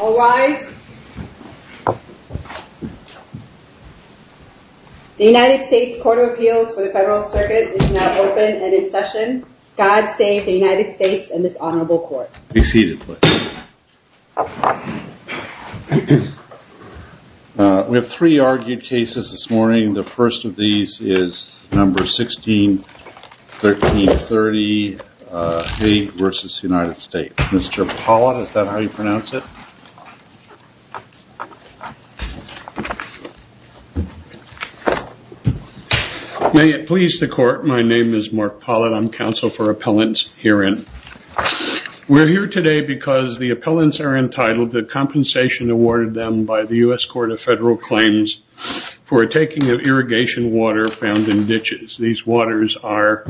All rise. The United States Court of Appeals for the Federal Circuit is now open and in session. God save the United States and this Honorable Court. Be seated please. We have three argued cases this morning. The first of these is number 161330 Hage v. United States. Mr. Pollitt, is that how you pronounce it? May it please the court, my name is Mark Pollitt. I'm counsel for appellants herein. We're here today because the appellants are entitled to compensation awarded them by the U.S. Court of Federal Claims for a taking of irrigation water found in ditches. These waters are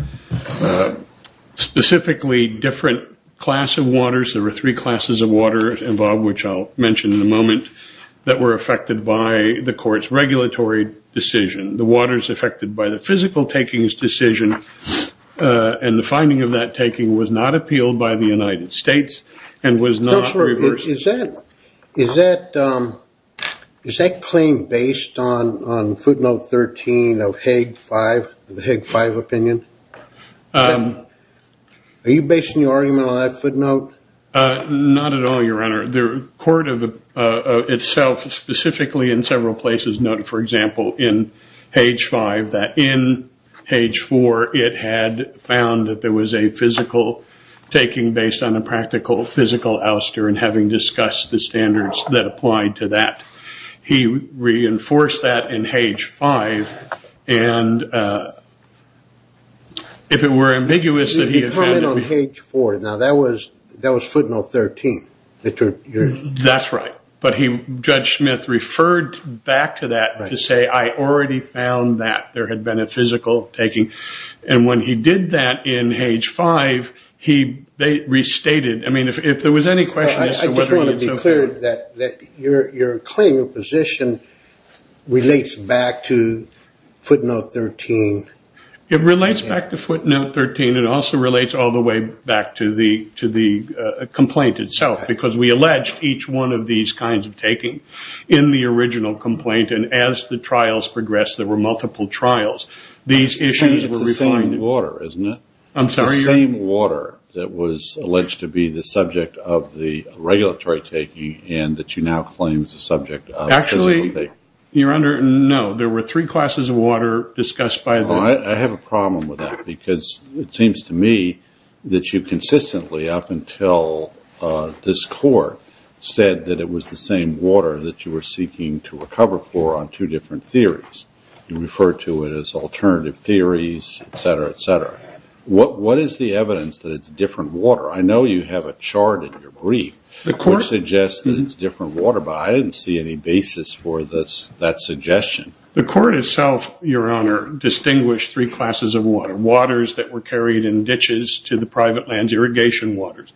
specifically different class of waters. There were three classes of water involved, which I'll mention in a moment, that were affected by the court's regulatory decision. The waters affected by the physical takings decision and the finding of that taking was not appealed by the United States and was not reversed. Counselor, is that claim based on footnote 13 of Hague 5, the Hague 5 opinion? Are you basing your argument on that footnote? Not at all, your honor. The court itself specifically in several places noted, for example, in Hague 5, that in Hague 4 it had found that there was a physical taking based on a practical physical ouster and having discussed the standards that applied to that. He reinforced that in Hague 5 and if it were ambiguous that he had found... You're calling it on Hague 4, now that was footnote 13. That's right. Judge Smith referred back to that to say, I already found that there had been a physical taking. When he did that in Hague 5, they restated... If there was any question as to whether... I just want to be clear that your claim of position relates back to footnote 13. It relates back to footnote 13. It also relates all the way back to the complaint itself because we alleged each one of these kinds of taking in the original complaint. As the trials progressed, there were multiple trials. These issues were refining... It's the same water, isn't it? I'm sorry, your... It's the same water that was alleged to be the subject of the regulatory taking and that you now claim is the subject of physical taking. Actually, your honor, no. There were three classes of water discussed by the... I have a problem with that because it seems to me that you consistently, up until this court, said that it was the same water that you were seeking to recover for on two different theories. You referred to it as alternative theories, et cetera, et cetera. What is the evidence that it's different water? I know you have a chart in your brief which suggests that it's different water, but I didn't see any basis for that suggestion. The court itself, your honor, distinguished three classes of water. Waters that were carried in ditches to the private lands, irrigation waters.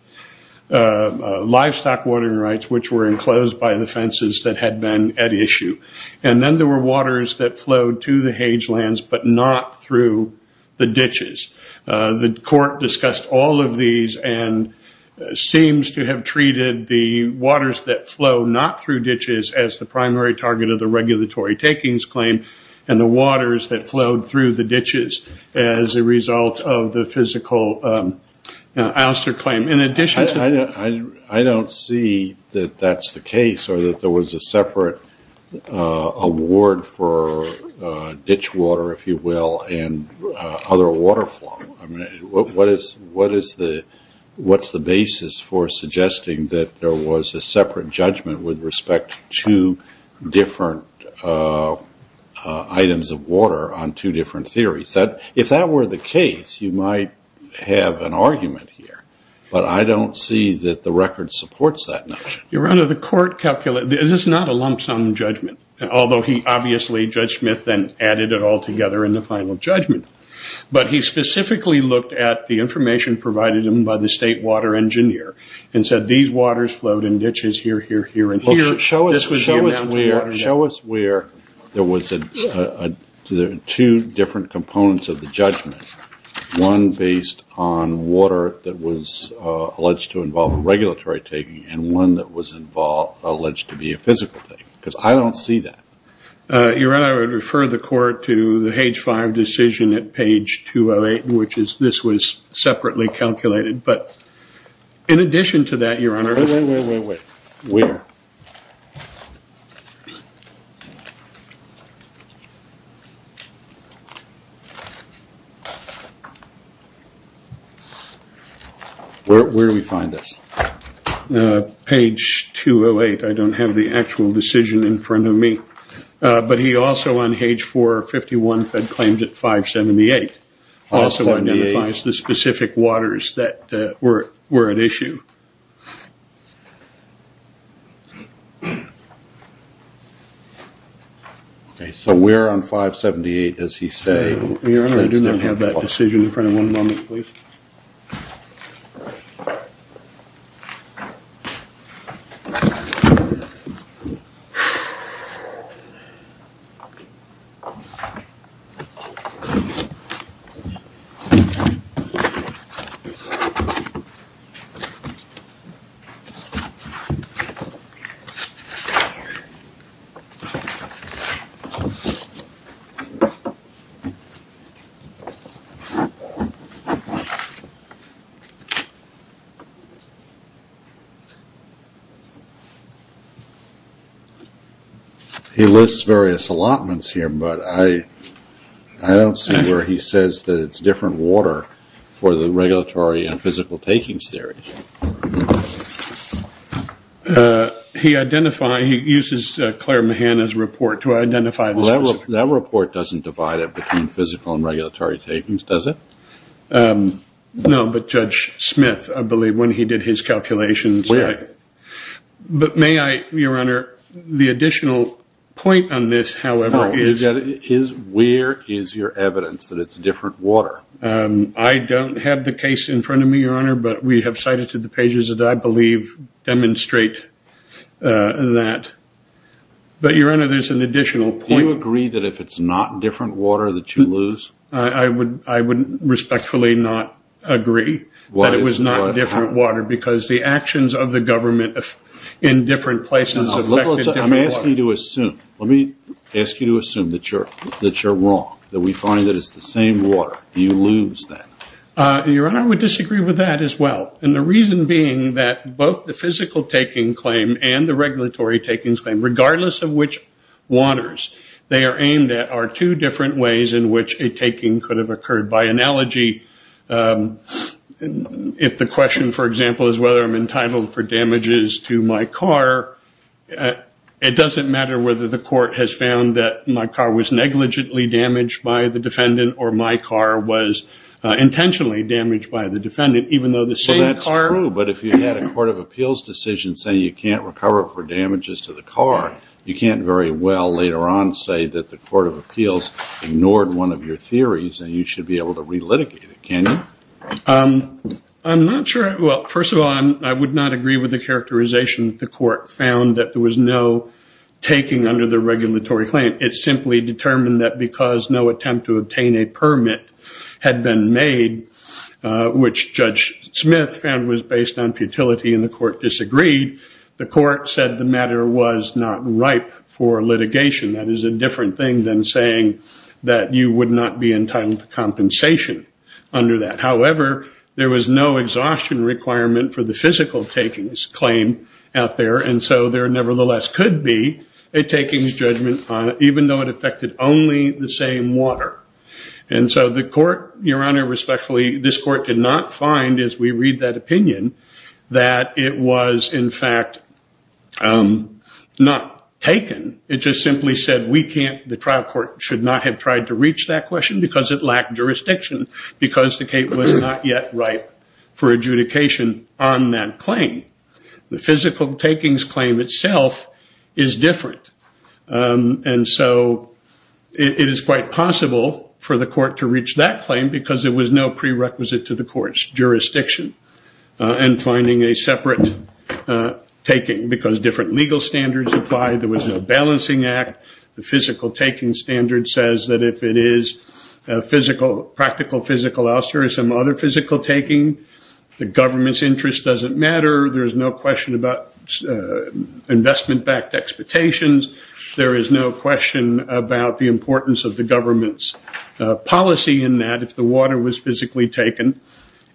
Livestock watering rights, which were enclosed by the fences that had been at issue. Then there were waters that flowed to the hagelands but not through the ditches. The court discussed all of these and seems to have treated the waters that flow not through ditches as the primary target of the regulatory takings claim, and the waters that flowed through the ditches as a result of the physical ouster claim. In addition to... I don't see that that's the case or that there was a separate award for ditch water, if you will, and other water flow. What's the basis for suggesting that there was a separate judgment with respect to different items of water on two different theories? If that were the case, you might have an argument here, but I don't see that the record supports that notion. Your honor, the court calculated. This is not a lump sum judgment, although he obviously, Judge Smith, then added it all together in the final judgment. He specifically looked at the information provided him by the state water engineer and said, these waters flowed in ditches here, here, here, and here. Show us where there was two different components of the judgment, one based on water that was alleged to involve regulatory taking and one that was alleged to be a physical thing, because I don't see that. Your honor, I would refer the court to the In addition to that, your honor... Wait, wait, wait, wait, wait, wait. Where? Where do we find this? Page 208. I don't have the actual decision in front of me, but he also on page 451, fed claimed at 578, also identifies the specific waters that were at issue. Okay, so we're on 578, as he say... I don't have that decision in front of me at the moment, please. He lists various allotments here, but I don't see where he says that it's different water for the regulatory and physical takings theory. He uses Claire Mahanna's report to identify the specific... That report doesn't divide it between physical and regulatory takings, does it? No, but Judge Smith, I believe, when he did his calculations... But may I, your honor, the additional point on this, however, is... Where is your evidence that it's different water? I don't have the case in front of me, your honor, but we have cited to the pages that I believe demonstrate that. But, your honor, there's an additional point... Do you agree that if it's not different water that you lose? I would respectfully not agree that it was not different water, because the actions of the government in different places affected different water. I'm asking you to assume. Let me ask you to assume that you're wrong, that we find that it's the same water. You lose that. Your honor, I would disagree with that as Regardless of which waters they are aimed at are two different ways in which a taking could have occurred. By analogy, if the question, for example, is whether I'm entitled for damages to my car, it doesn't matter whether the court has found that my car was negligently damaged by the defendant or my car was intentionally damaged by the defendant, even though the same car... That's true, but if you had a court of appeals decision saying you can't recover for damages to the car, you can't very well later on say that the court of appeals ignored one of your theories and you should be able to relitigate it, can you? I'm not sure... Well, first of all, I would not agree with the characterization that the court found that there was no taking under the regulatory claim. It simply determined that because no attempt to obtain a permit had been made, which Judge Smith found was based on futility and the court disagreed, the court said the matter was not ripe for litigation. That is a different thing than saying that you would not be entitled to compensation under that. However, there was no exhaustion requirement for the physical takings claim out there, and so there nevertheless could be a takings judgment on it, even though it affected only the same water. And so the court, Your Honor, respectfully, this court did not find, as we read that opinion, that it was, in fact, not taken. It just simply said we can't... The trial court should not have tried to reach that question because it lacked jurisdiction because the case was not yet ripe for adjudication on that claim. The physical takings claim itself is different, and so it is quite possible for the court to reach that claim because there was no prerequisite to the court's jurisdiction in finding a separate taking, because different legal standards apply. There was no balancing act. The physical taking standard says that if it is a practical physical ouster or some other physical taking, the government's interest doesn't matter. There is no question about investment-backed expectations. There is no question about the importance of the government's policy in that if the water was physically taken.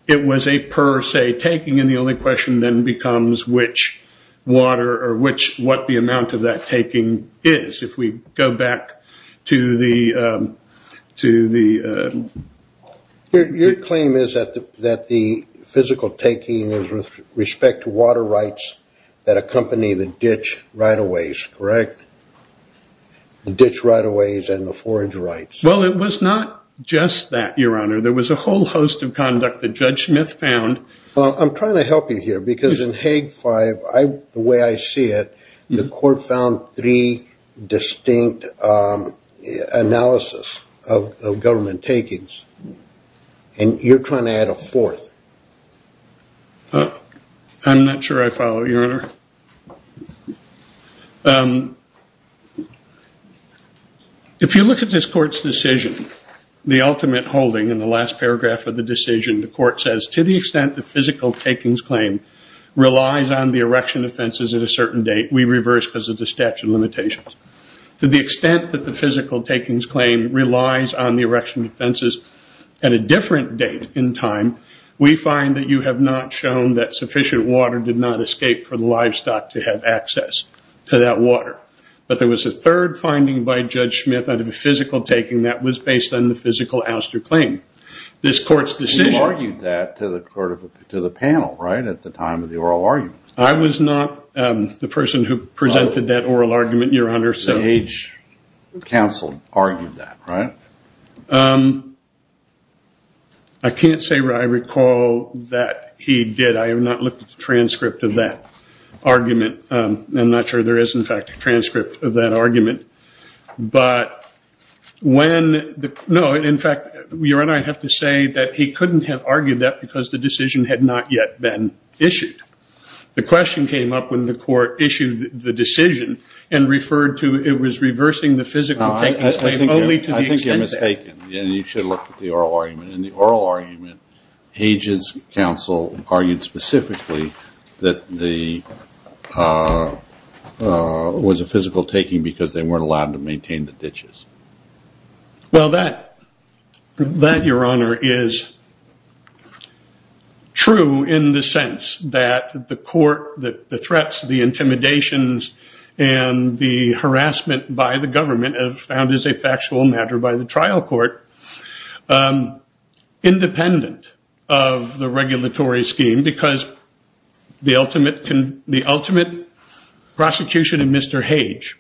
It was a per se taking, and the only question then becomes which water or what the amount of that taking is. If we go back to the... Physical taking is with respect to water rights that accompany the ditch right-of-ways, correct? Ditch right-of-ways and the forage rights. Well, it was not just that, Your Honor. There was a whole host of conduct that Judge Smith found. I'm trying to help you here because in Hague 5, the way I see it, the court found three distinct analysis of government takings, and you're trying to add a fourth. I'm not sure I follow, Your Honor. If you look at this court's decision, the ultimate holding in the last paragraph of the decision, the court says, to the extent the physical takings claim relies on the erection offenses at a certain date, we reverse because of the statute of limitations. To the extent that the physical takings claim relies on the erection offenses at a different date in time, we find that you have not shown that sufficient water did not escape for the livestock to have access to that water. But there was a third finding by Judge Smith out of the physical taking that was based on the physical ouster claim. This court's decision... You argued that to the panel, right, at the time of the oral argument. I was not the person who presented that oral argument, Your Honor. The H council argued that, right? I can't say that I recall that he did. I have not looked at the transcript of that argument. I'm not sure there is, in fact, a transcript of that argument. But when... No, in fact, Your Honor, I have to say that he couldn't have argued that because the decision had not yet been issued. The question came up when the court issued the it was reversing the physical taking claim only to the extent that... I think you're mistaken. You should look at the oral argument. In the oral argument, Hage's council argued specifically that there was a physical taking because they weren't allowed to maintain the ditches. Well, that, Your Honor, is true in the sense that the court, the threats, the intimidations and the harassment by the government are found as a factual matter by the trial court independent of the regulatory scheme because the ultimate prosecution in Mr. Hage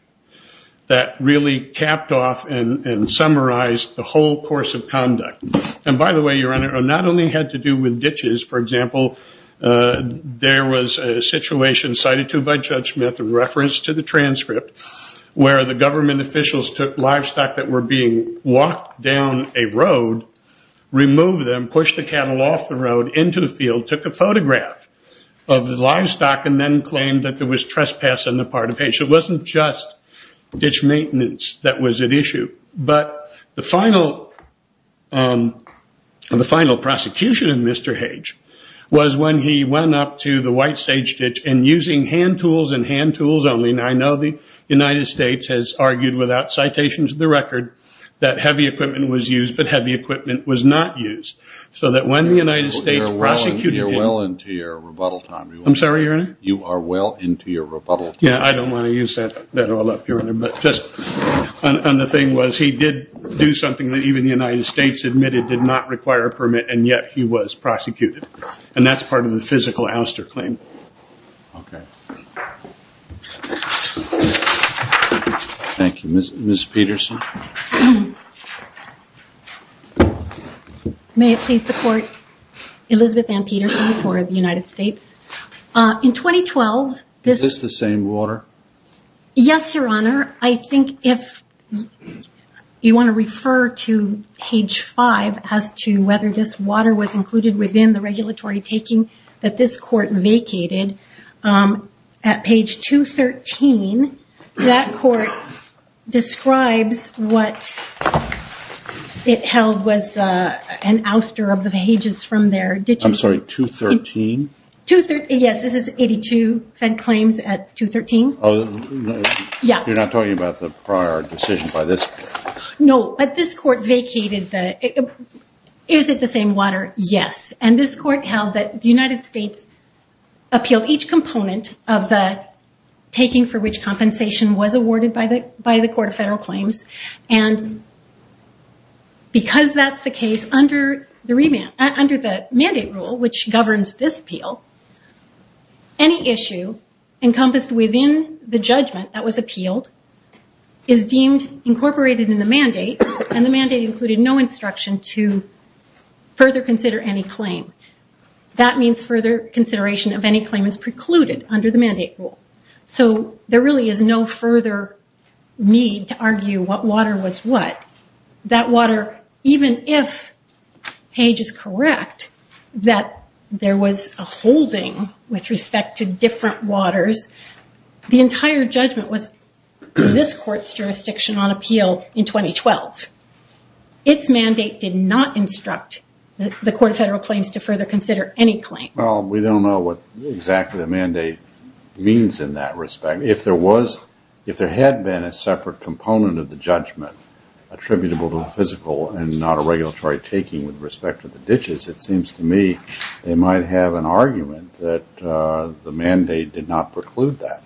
that really capped off and summarized the whole course of conduct. By the way, Your Honor, it not only had to do with ditches. For example, there was a reference to the transcript where the government officials took livestock that were being walked down a road, removed them, pushed the cattle off the road into the field, took a photograph of the livestock and then claimed that there was trespass on the part of Hage. It wasn't just ditch maintenance that was at issue. But the final prosecution of Mr. Hage was when he went up to the White Sage Ditch and using hand tools and hand tools only, and I know the United States has argued without citations of the record, that heavy equipment was used but heavy equipment was not used. So that when the United States prosecuted him... You're well into your rebuttal time. I'm sorry, Your Honor? You are well into your rebuttal time. Yeah, I don't want to use that all up, Your Honor. But just on the thing was he did do something that even the United States admitted did not require a permit and yet he was prosecuted. And that's part of the physical ouster claim. Okay. Thank you. Ms. Peterson? May it please the Court, Elizabeth Ann Peterson, Court of the United States. In 2012, this... Is this the same water? Yes, Your Honor. I think if you want to refer to page five as to whether this water was included within the regulatory taking that this court vacated, at page 213, that court describes what it held was an ouster of the pages from their... I'm sorry, 213? Yes, this is 82 fed claims at 213. Oh, you're not talking about the prior decision by this court? No, but this court vacated the... Is it the same water? Yes, and this court held that the United States appealed each component of the taking for which compensation was awarded by the Court of Federal Claims. And because that's the case under the mandate rule, which governs this appeal, any issue encompassed within the judgment that was appealed is deemed incorporated in the mandate. And the mandate included no instruction to further consider any claim. That means further consideration of any claim is precluded under the mandate rule. So there really is no further need to argue what water was what. That water, even if page is correct, that there was a holding with respect to different waters, the entire judgment was this court's jurisdiction on appeal in 2012. Its mandate did not instruct the Court of Federal Claims to further consider any claim. Well, we don't know what exactly the mandate means in that respect. If there had been a separate component of the judgment attributable to the physical and not a regulatory taking with respect to the ditches, it seems to me they might have an argument that the mandate did not preclude that.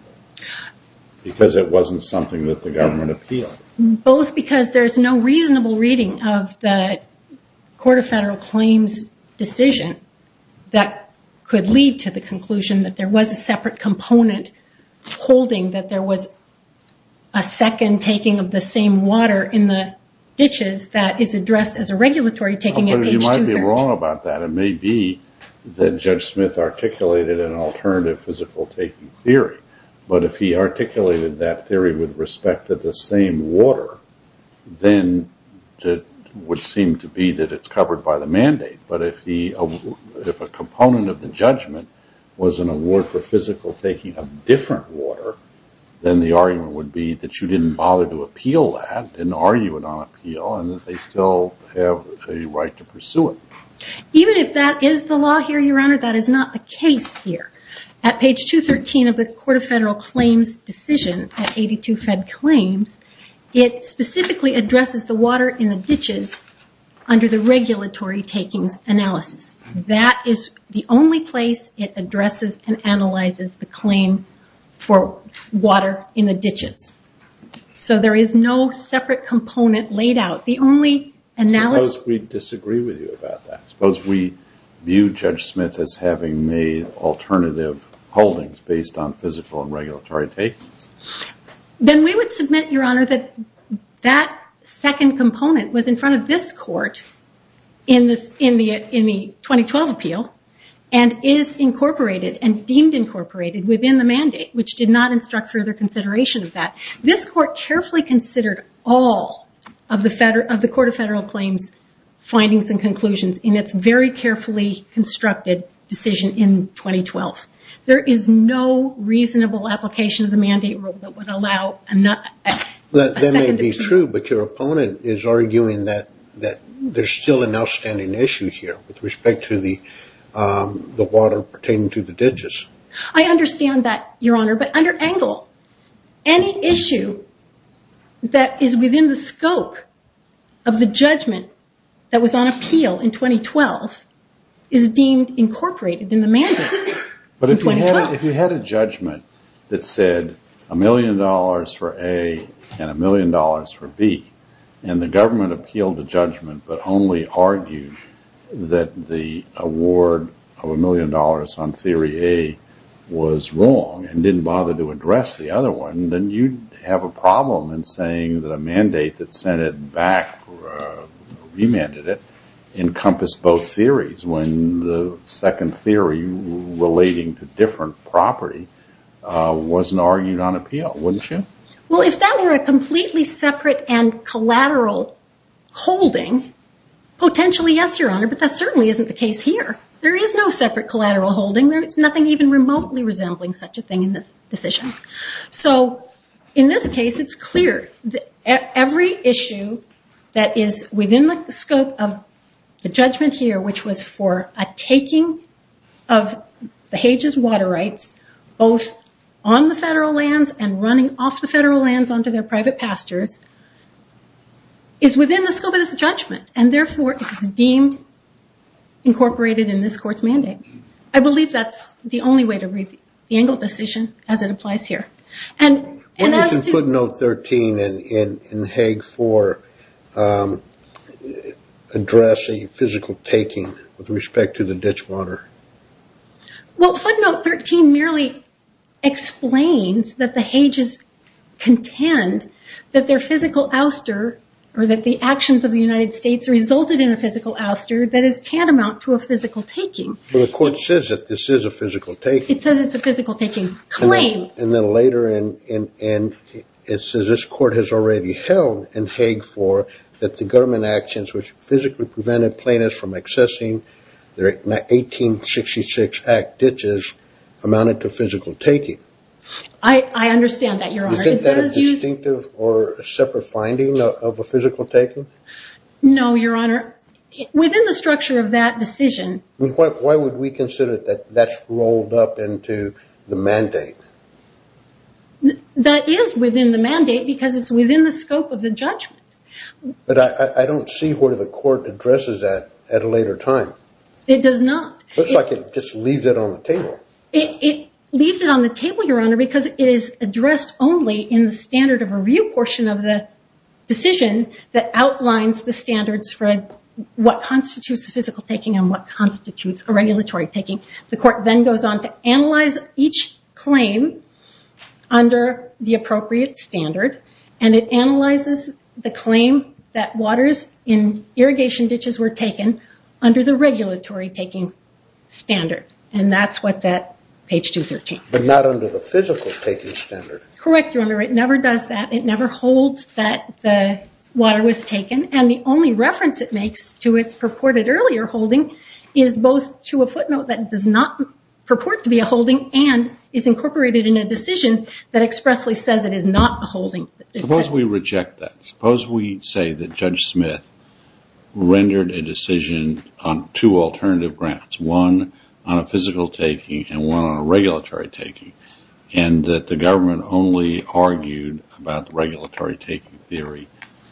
Because it wasn't something that the government appealed. Both because there's no reasonable reading of the Court of Federal Claims decision that could lead to the conclusion that there was a separate component holding that there was a second taking of the same water in the ditches that is addressed as a regulatory taking at page 230. You're wrong about that. It may be that Judge Smith articulated an alternative physical taking theory. But if he articulated that theory with respect to the same water, then it would seem to be that it's covered by the mandate. But if a component of the judgment was an award for physical taking of different water, then the argument would be that you didn't bother to appeal that and argue it on appeal and that they still have a right to pursue it. Even if that is the law here, Your Honor, that is not the case here. At page 213 of the Court of Federal Claims decision at 82 Fed Claims, it specifically addresses the water in the ditches under the regulatory takings analysis. That is the only place it addresses and analyzes the claim for water in the ditches. So there is no separate component laid out. Suppose we disagree with you about that. Suppose we view Judge Smith as having made alternative holdings based on physical and regulatory takings. Then we would submit, Your Honor, that that second component was in front of this court in the 2012 appeal and is incorporated and deemed incorporated within the mandate, which did not instruct further consideration of that. This court carefully considered all of the Court of Federal Claims' findings and conclusions in its very carefully constructed decision in 2012. There is no reasonable application of the mandate rule that would allow a second appeal. That may be true, but your opponent is arguing that there is still an outstanding issue here with respect to the water pertaining to the ditches. I understand that, Your Honor, but under Engel, any issue that is within the scope of the judgment that was on appeal in 2012 is deemed incorporated in the mandate in 2012. But if you had a judgment that said a million dollars for A and a million dollars for B, and the government appealed the judgment but only argued that the award of a million dollars on theory A was wrong and didn't bother to address the other one, then you'd have a problem in saying that a mandate that sent it back or remanded it encompassed both theories when the second theory relating to different property wasn't argued on appeal, wouldn't you? Well, if that were a completely separate and collateral holding, potentially, yes, Your Honor, but that certainly isn't the case here. There is no separate collateral holding. There is nothing even remotely resembling such a thing in this decision. In this case, it's clear that every issue that is within the scope of the judgment here, which was for a taking of the Hague's water rights, both on the federal lands and running off the federal lands onto their private pastures, is within the scope of this judgment, and therefore is deemed incorporated in this court's mandate. I believe that's the only way to read the Engle decision as it applies here. What does footnote 13 in Hague 4 address a physical taking with respect to the ditch water? Well, footnote 13 merely explains that the Hague's contend that their physical ouster or that the actions of the United States resulted in a physical ouster that is tantamount to a physical taking. Well, the court says that this is a physical taking. It says it's a physical taking. Claim. And then later it says this court has already held in Hague 4 that the government actions which physically prevented plaintiffs from accessing their 1866 Act ditches amounted to physical taking. I understand that, Your Honor. Isn't that a distinctive or separate finding of a physical taking? No, Your Honor. Within the structure of that decision. Why would we consider that that's rolled up into the mandate? That is within the mandate because it's within the scope of the judgment. But I don't see where the court addresses that at a later time. It does not. It looks like it just leaves it on the table. It leaves it on the table, Your Honor, because it is addressed only in the standard of review portion of the decision that outlines the standards for what constitutes a physical taking and what constitutes a regulatory taking. The court then goes on to analyze each claim under the appropriate standard. And it analyzes the claim that waters in irrigation ditches were taken under the regulatory taking standard. And that's what that page 213. But not under the physical taking standard. Correct, Your Honor. It never does that. It never holds that the water was taken. And the only reference it makes to its purported earlier holding is both to a footnote that does not purport to be a holding and is incorporated in a decision that expressly says it is not a holding. Suppose we reject that. Suppose we say that Judge Smith rendered a decision on two alternative grounds, one on a physical taking and one on a regulatory taking, and that the government only argued about the regulatory taking theory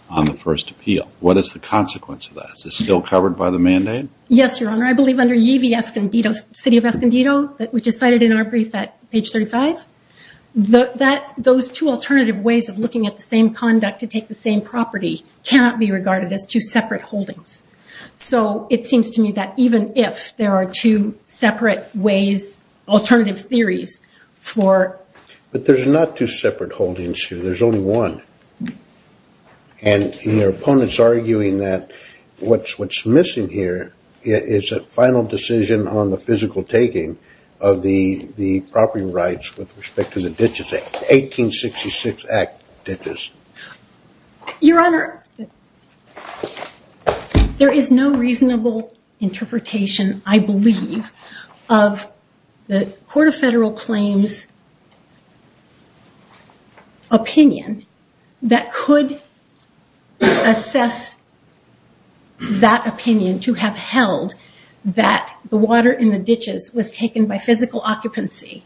on the first appeal. What is the consequence of that? Is it still covered by the mandate? Yes, Your Honor. I believe under Yvie Escondido, City of Escondido, which is cited in our brief at page 35, those two alternative ways of looking at the same conduct to take the same property cannot be regarded as two separate holdings. So it seems to me that even if there are two separate ways, alternative theories for... But there's not two separate holdings here. There's only one. And your opponent's arguing that what's missing here is a final decision on the physical taking of the property rights with respect to the Ditches Act, 1866 Act Ditches. Your Honor, there is no reasonable interpretation, I believe, of the Court of Federal Claims' opinion that could assess that opinion to have held that the water in the ditches was taken by physical occupancy.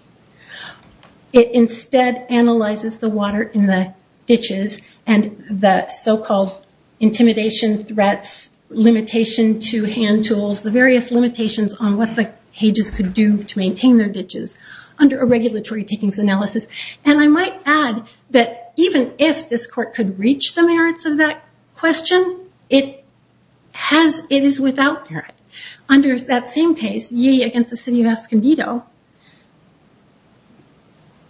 It instead analyzes the water in the ditches and the so-called intimidation threats, limitation to hand tools, the various limitations on what the cages could do to maintain their ditches under a regulatory takings analysis. And I might add that even if this court could reach the merits of that question, it is without merit. Under that same case, Ye Against the City of Escondido,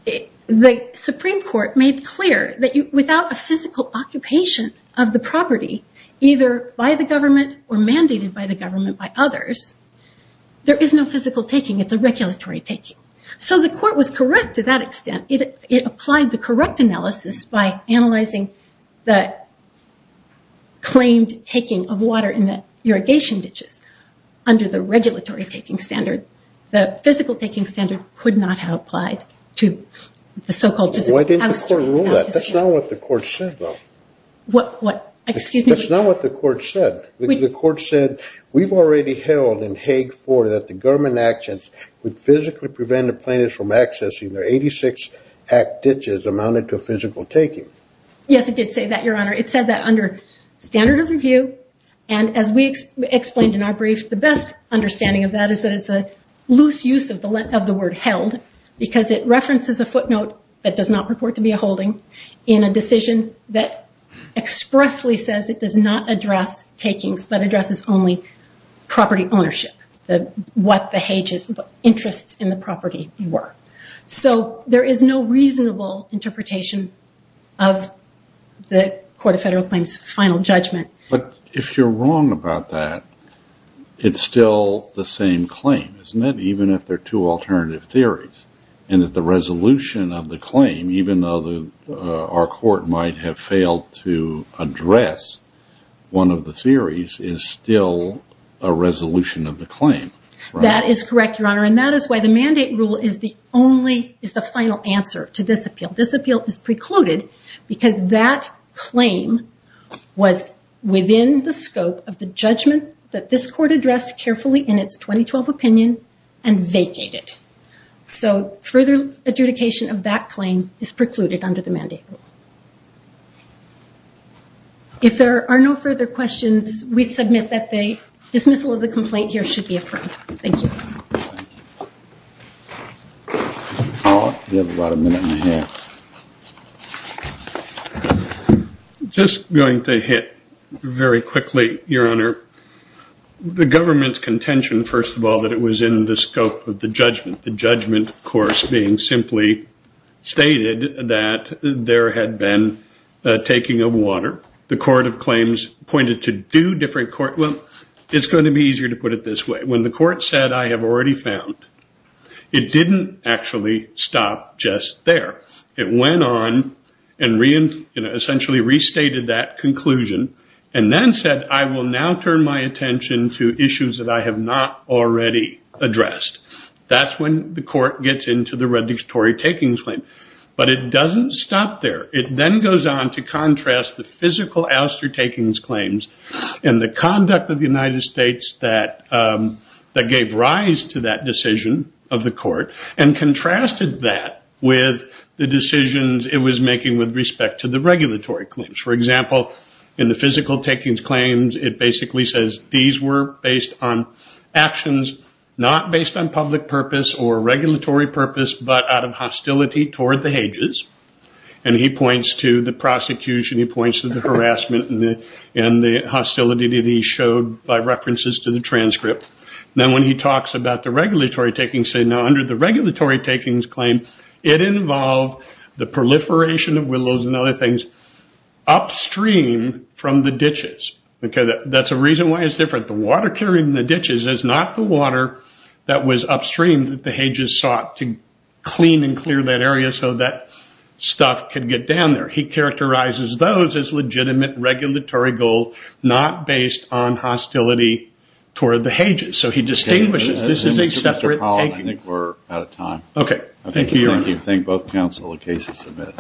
the Supreme Court made clear that without a physical occupation of the property, either by the government or mandated by the government by others, there is no physical taking. It's a regulatory taking. So the court was correct to that extent. It applied the correct analysis by analyzing the claimed taking of water in the irrigation ditches under the regulatory taking standard. The physical taking standard could not have applied to the so-called physical occupation. Why didn't the court rule that? That's not what the court said, though. Excuse me? That's not what the court said. The court said, we've already held in Hague 4 that the government actions would physically prevent a plaintiff from accessing their 86-act ditches amounted to a physical taking. Yes, it did say that, Your Honor. It said that under standard of review. And as we explained in our brief, the best understanding of that is that it's a loose use of the word held because it references a footnote that does not purport to be a holding in a decision that expressly says it does not address takings but addresses only property ownership, what the Hague's interests in the property were. So there is no reasonable interpretation of the Court of Federal Claims' final judgment. But if you're wrong about that, it's still the same claim, isn't it, even if they're two alternative theories, and that the resolution of the claim, even though our court might have failed to address one of the theories, is still a resolution of the claim. That is correct, Your Honor. And that is why the mandate rule is the final answer to this appeal. This appeal is precluded because that claim was within the scope of the judgment that this court addressed carefully in its 2012 opinion and vacated. So further adjudication of that claim is precluded under the mandate rule. If there are no further questions, we submit that the dismissal of the complaint here should be affirmed. Thank you. The government's contention, first of all, that it was in the scope of the judgment, the judgment, of course, being simply stated that there had been taking of water. The Court of Claims pointed to two different courtrooms. It's going to be easier to put it this way. When the court said, I have already found, it didn't actually stop just there. It went on and essentially restated that conclusion and then said, I will now turn my attention to issues that I have not already addressed. That's when the court gets into the redictory takings claim. But it doesn't stop there. It then goes on to contrast the physical ouster takings claims and the conduct of the United States that gave rise to that decision of the court and contrasted that with the decisions it was making with respect to the regulatory claims. For example, in the physical takings claims, it basically says these were based on actions not based on public purpose or regulatory purpose, but out of hostility toward the ages. He points to the prosecution. He points to the harassment and the hostility that he showed by references to the transcript. Then when he talks about the regulatory takings claim, now under the regulatory takings claim, it involved the proliferation of willows and other things upstream from the ditches. That's a reason why it's different. The water carrying the ditches is not the water that was upstream that the ages sought to clean and clear that area so that stuff could get down there. He characterizes those as legitimate regulatory goal not based on hostility toward the ages. So he distinguishes. This is a separate taking. I think we're out of time. Okay. Thank you, Your Honor. Thank you. Thank both counsel. The case is submitted.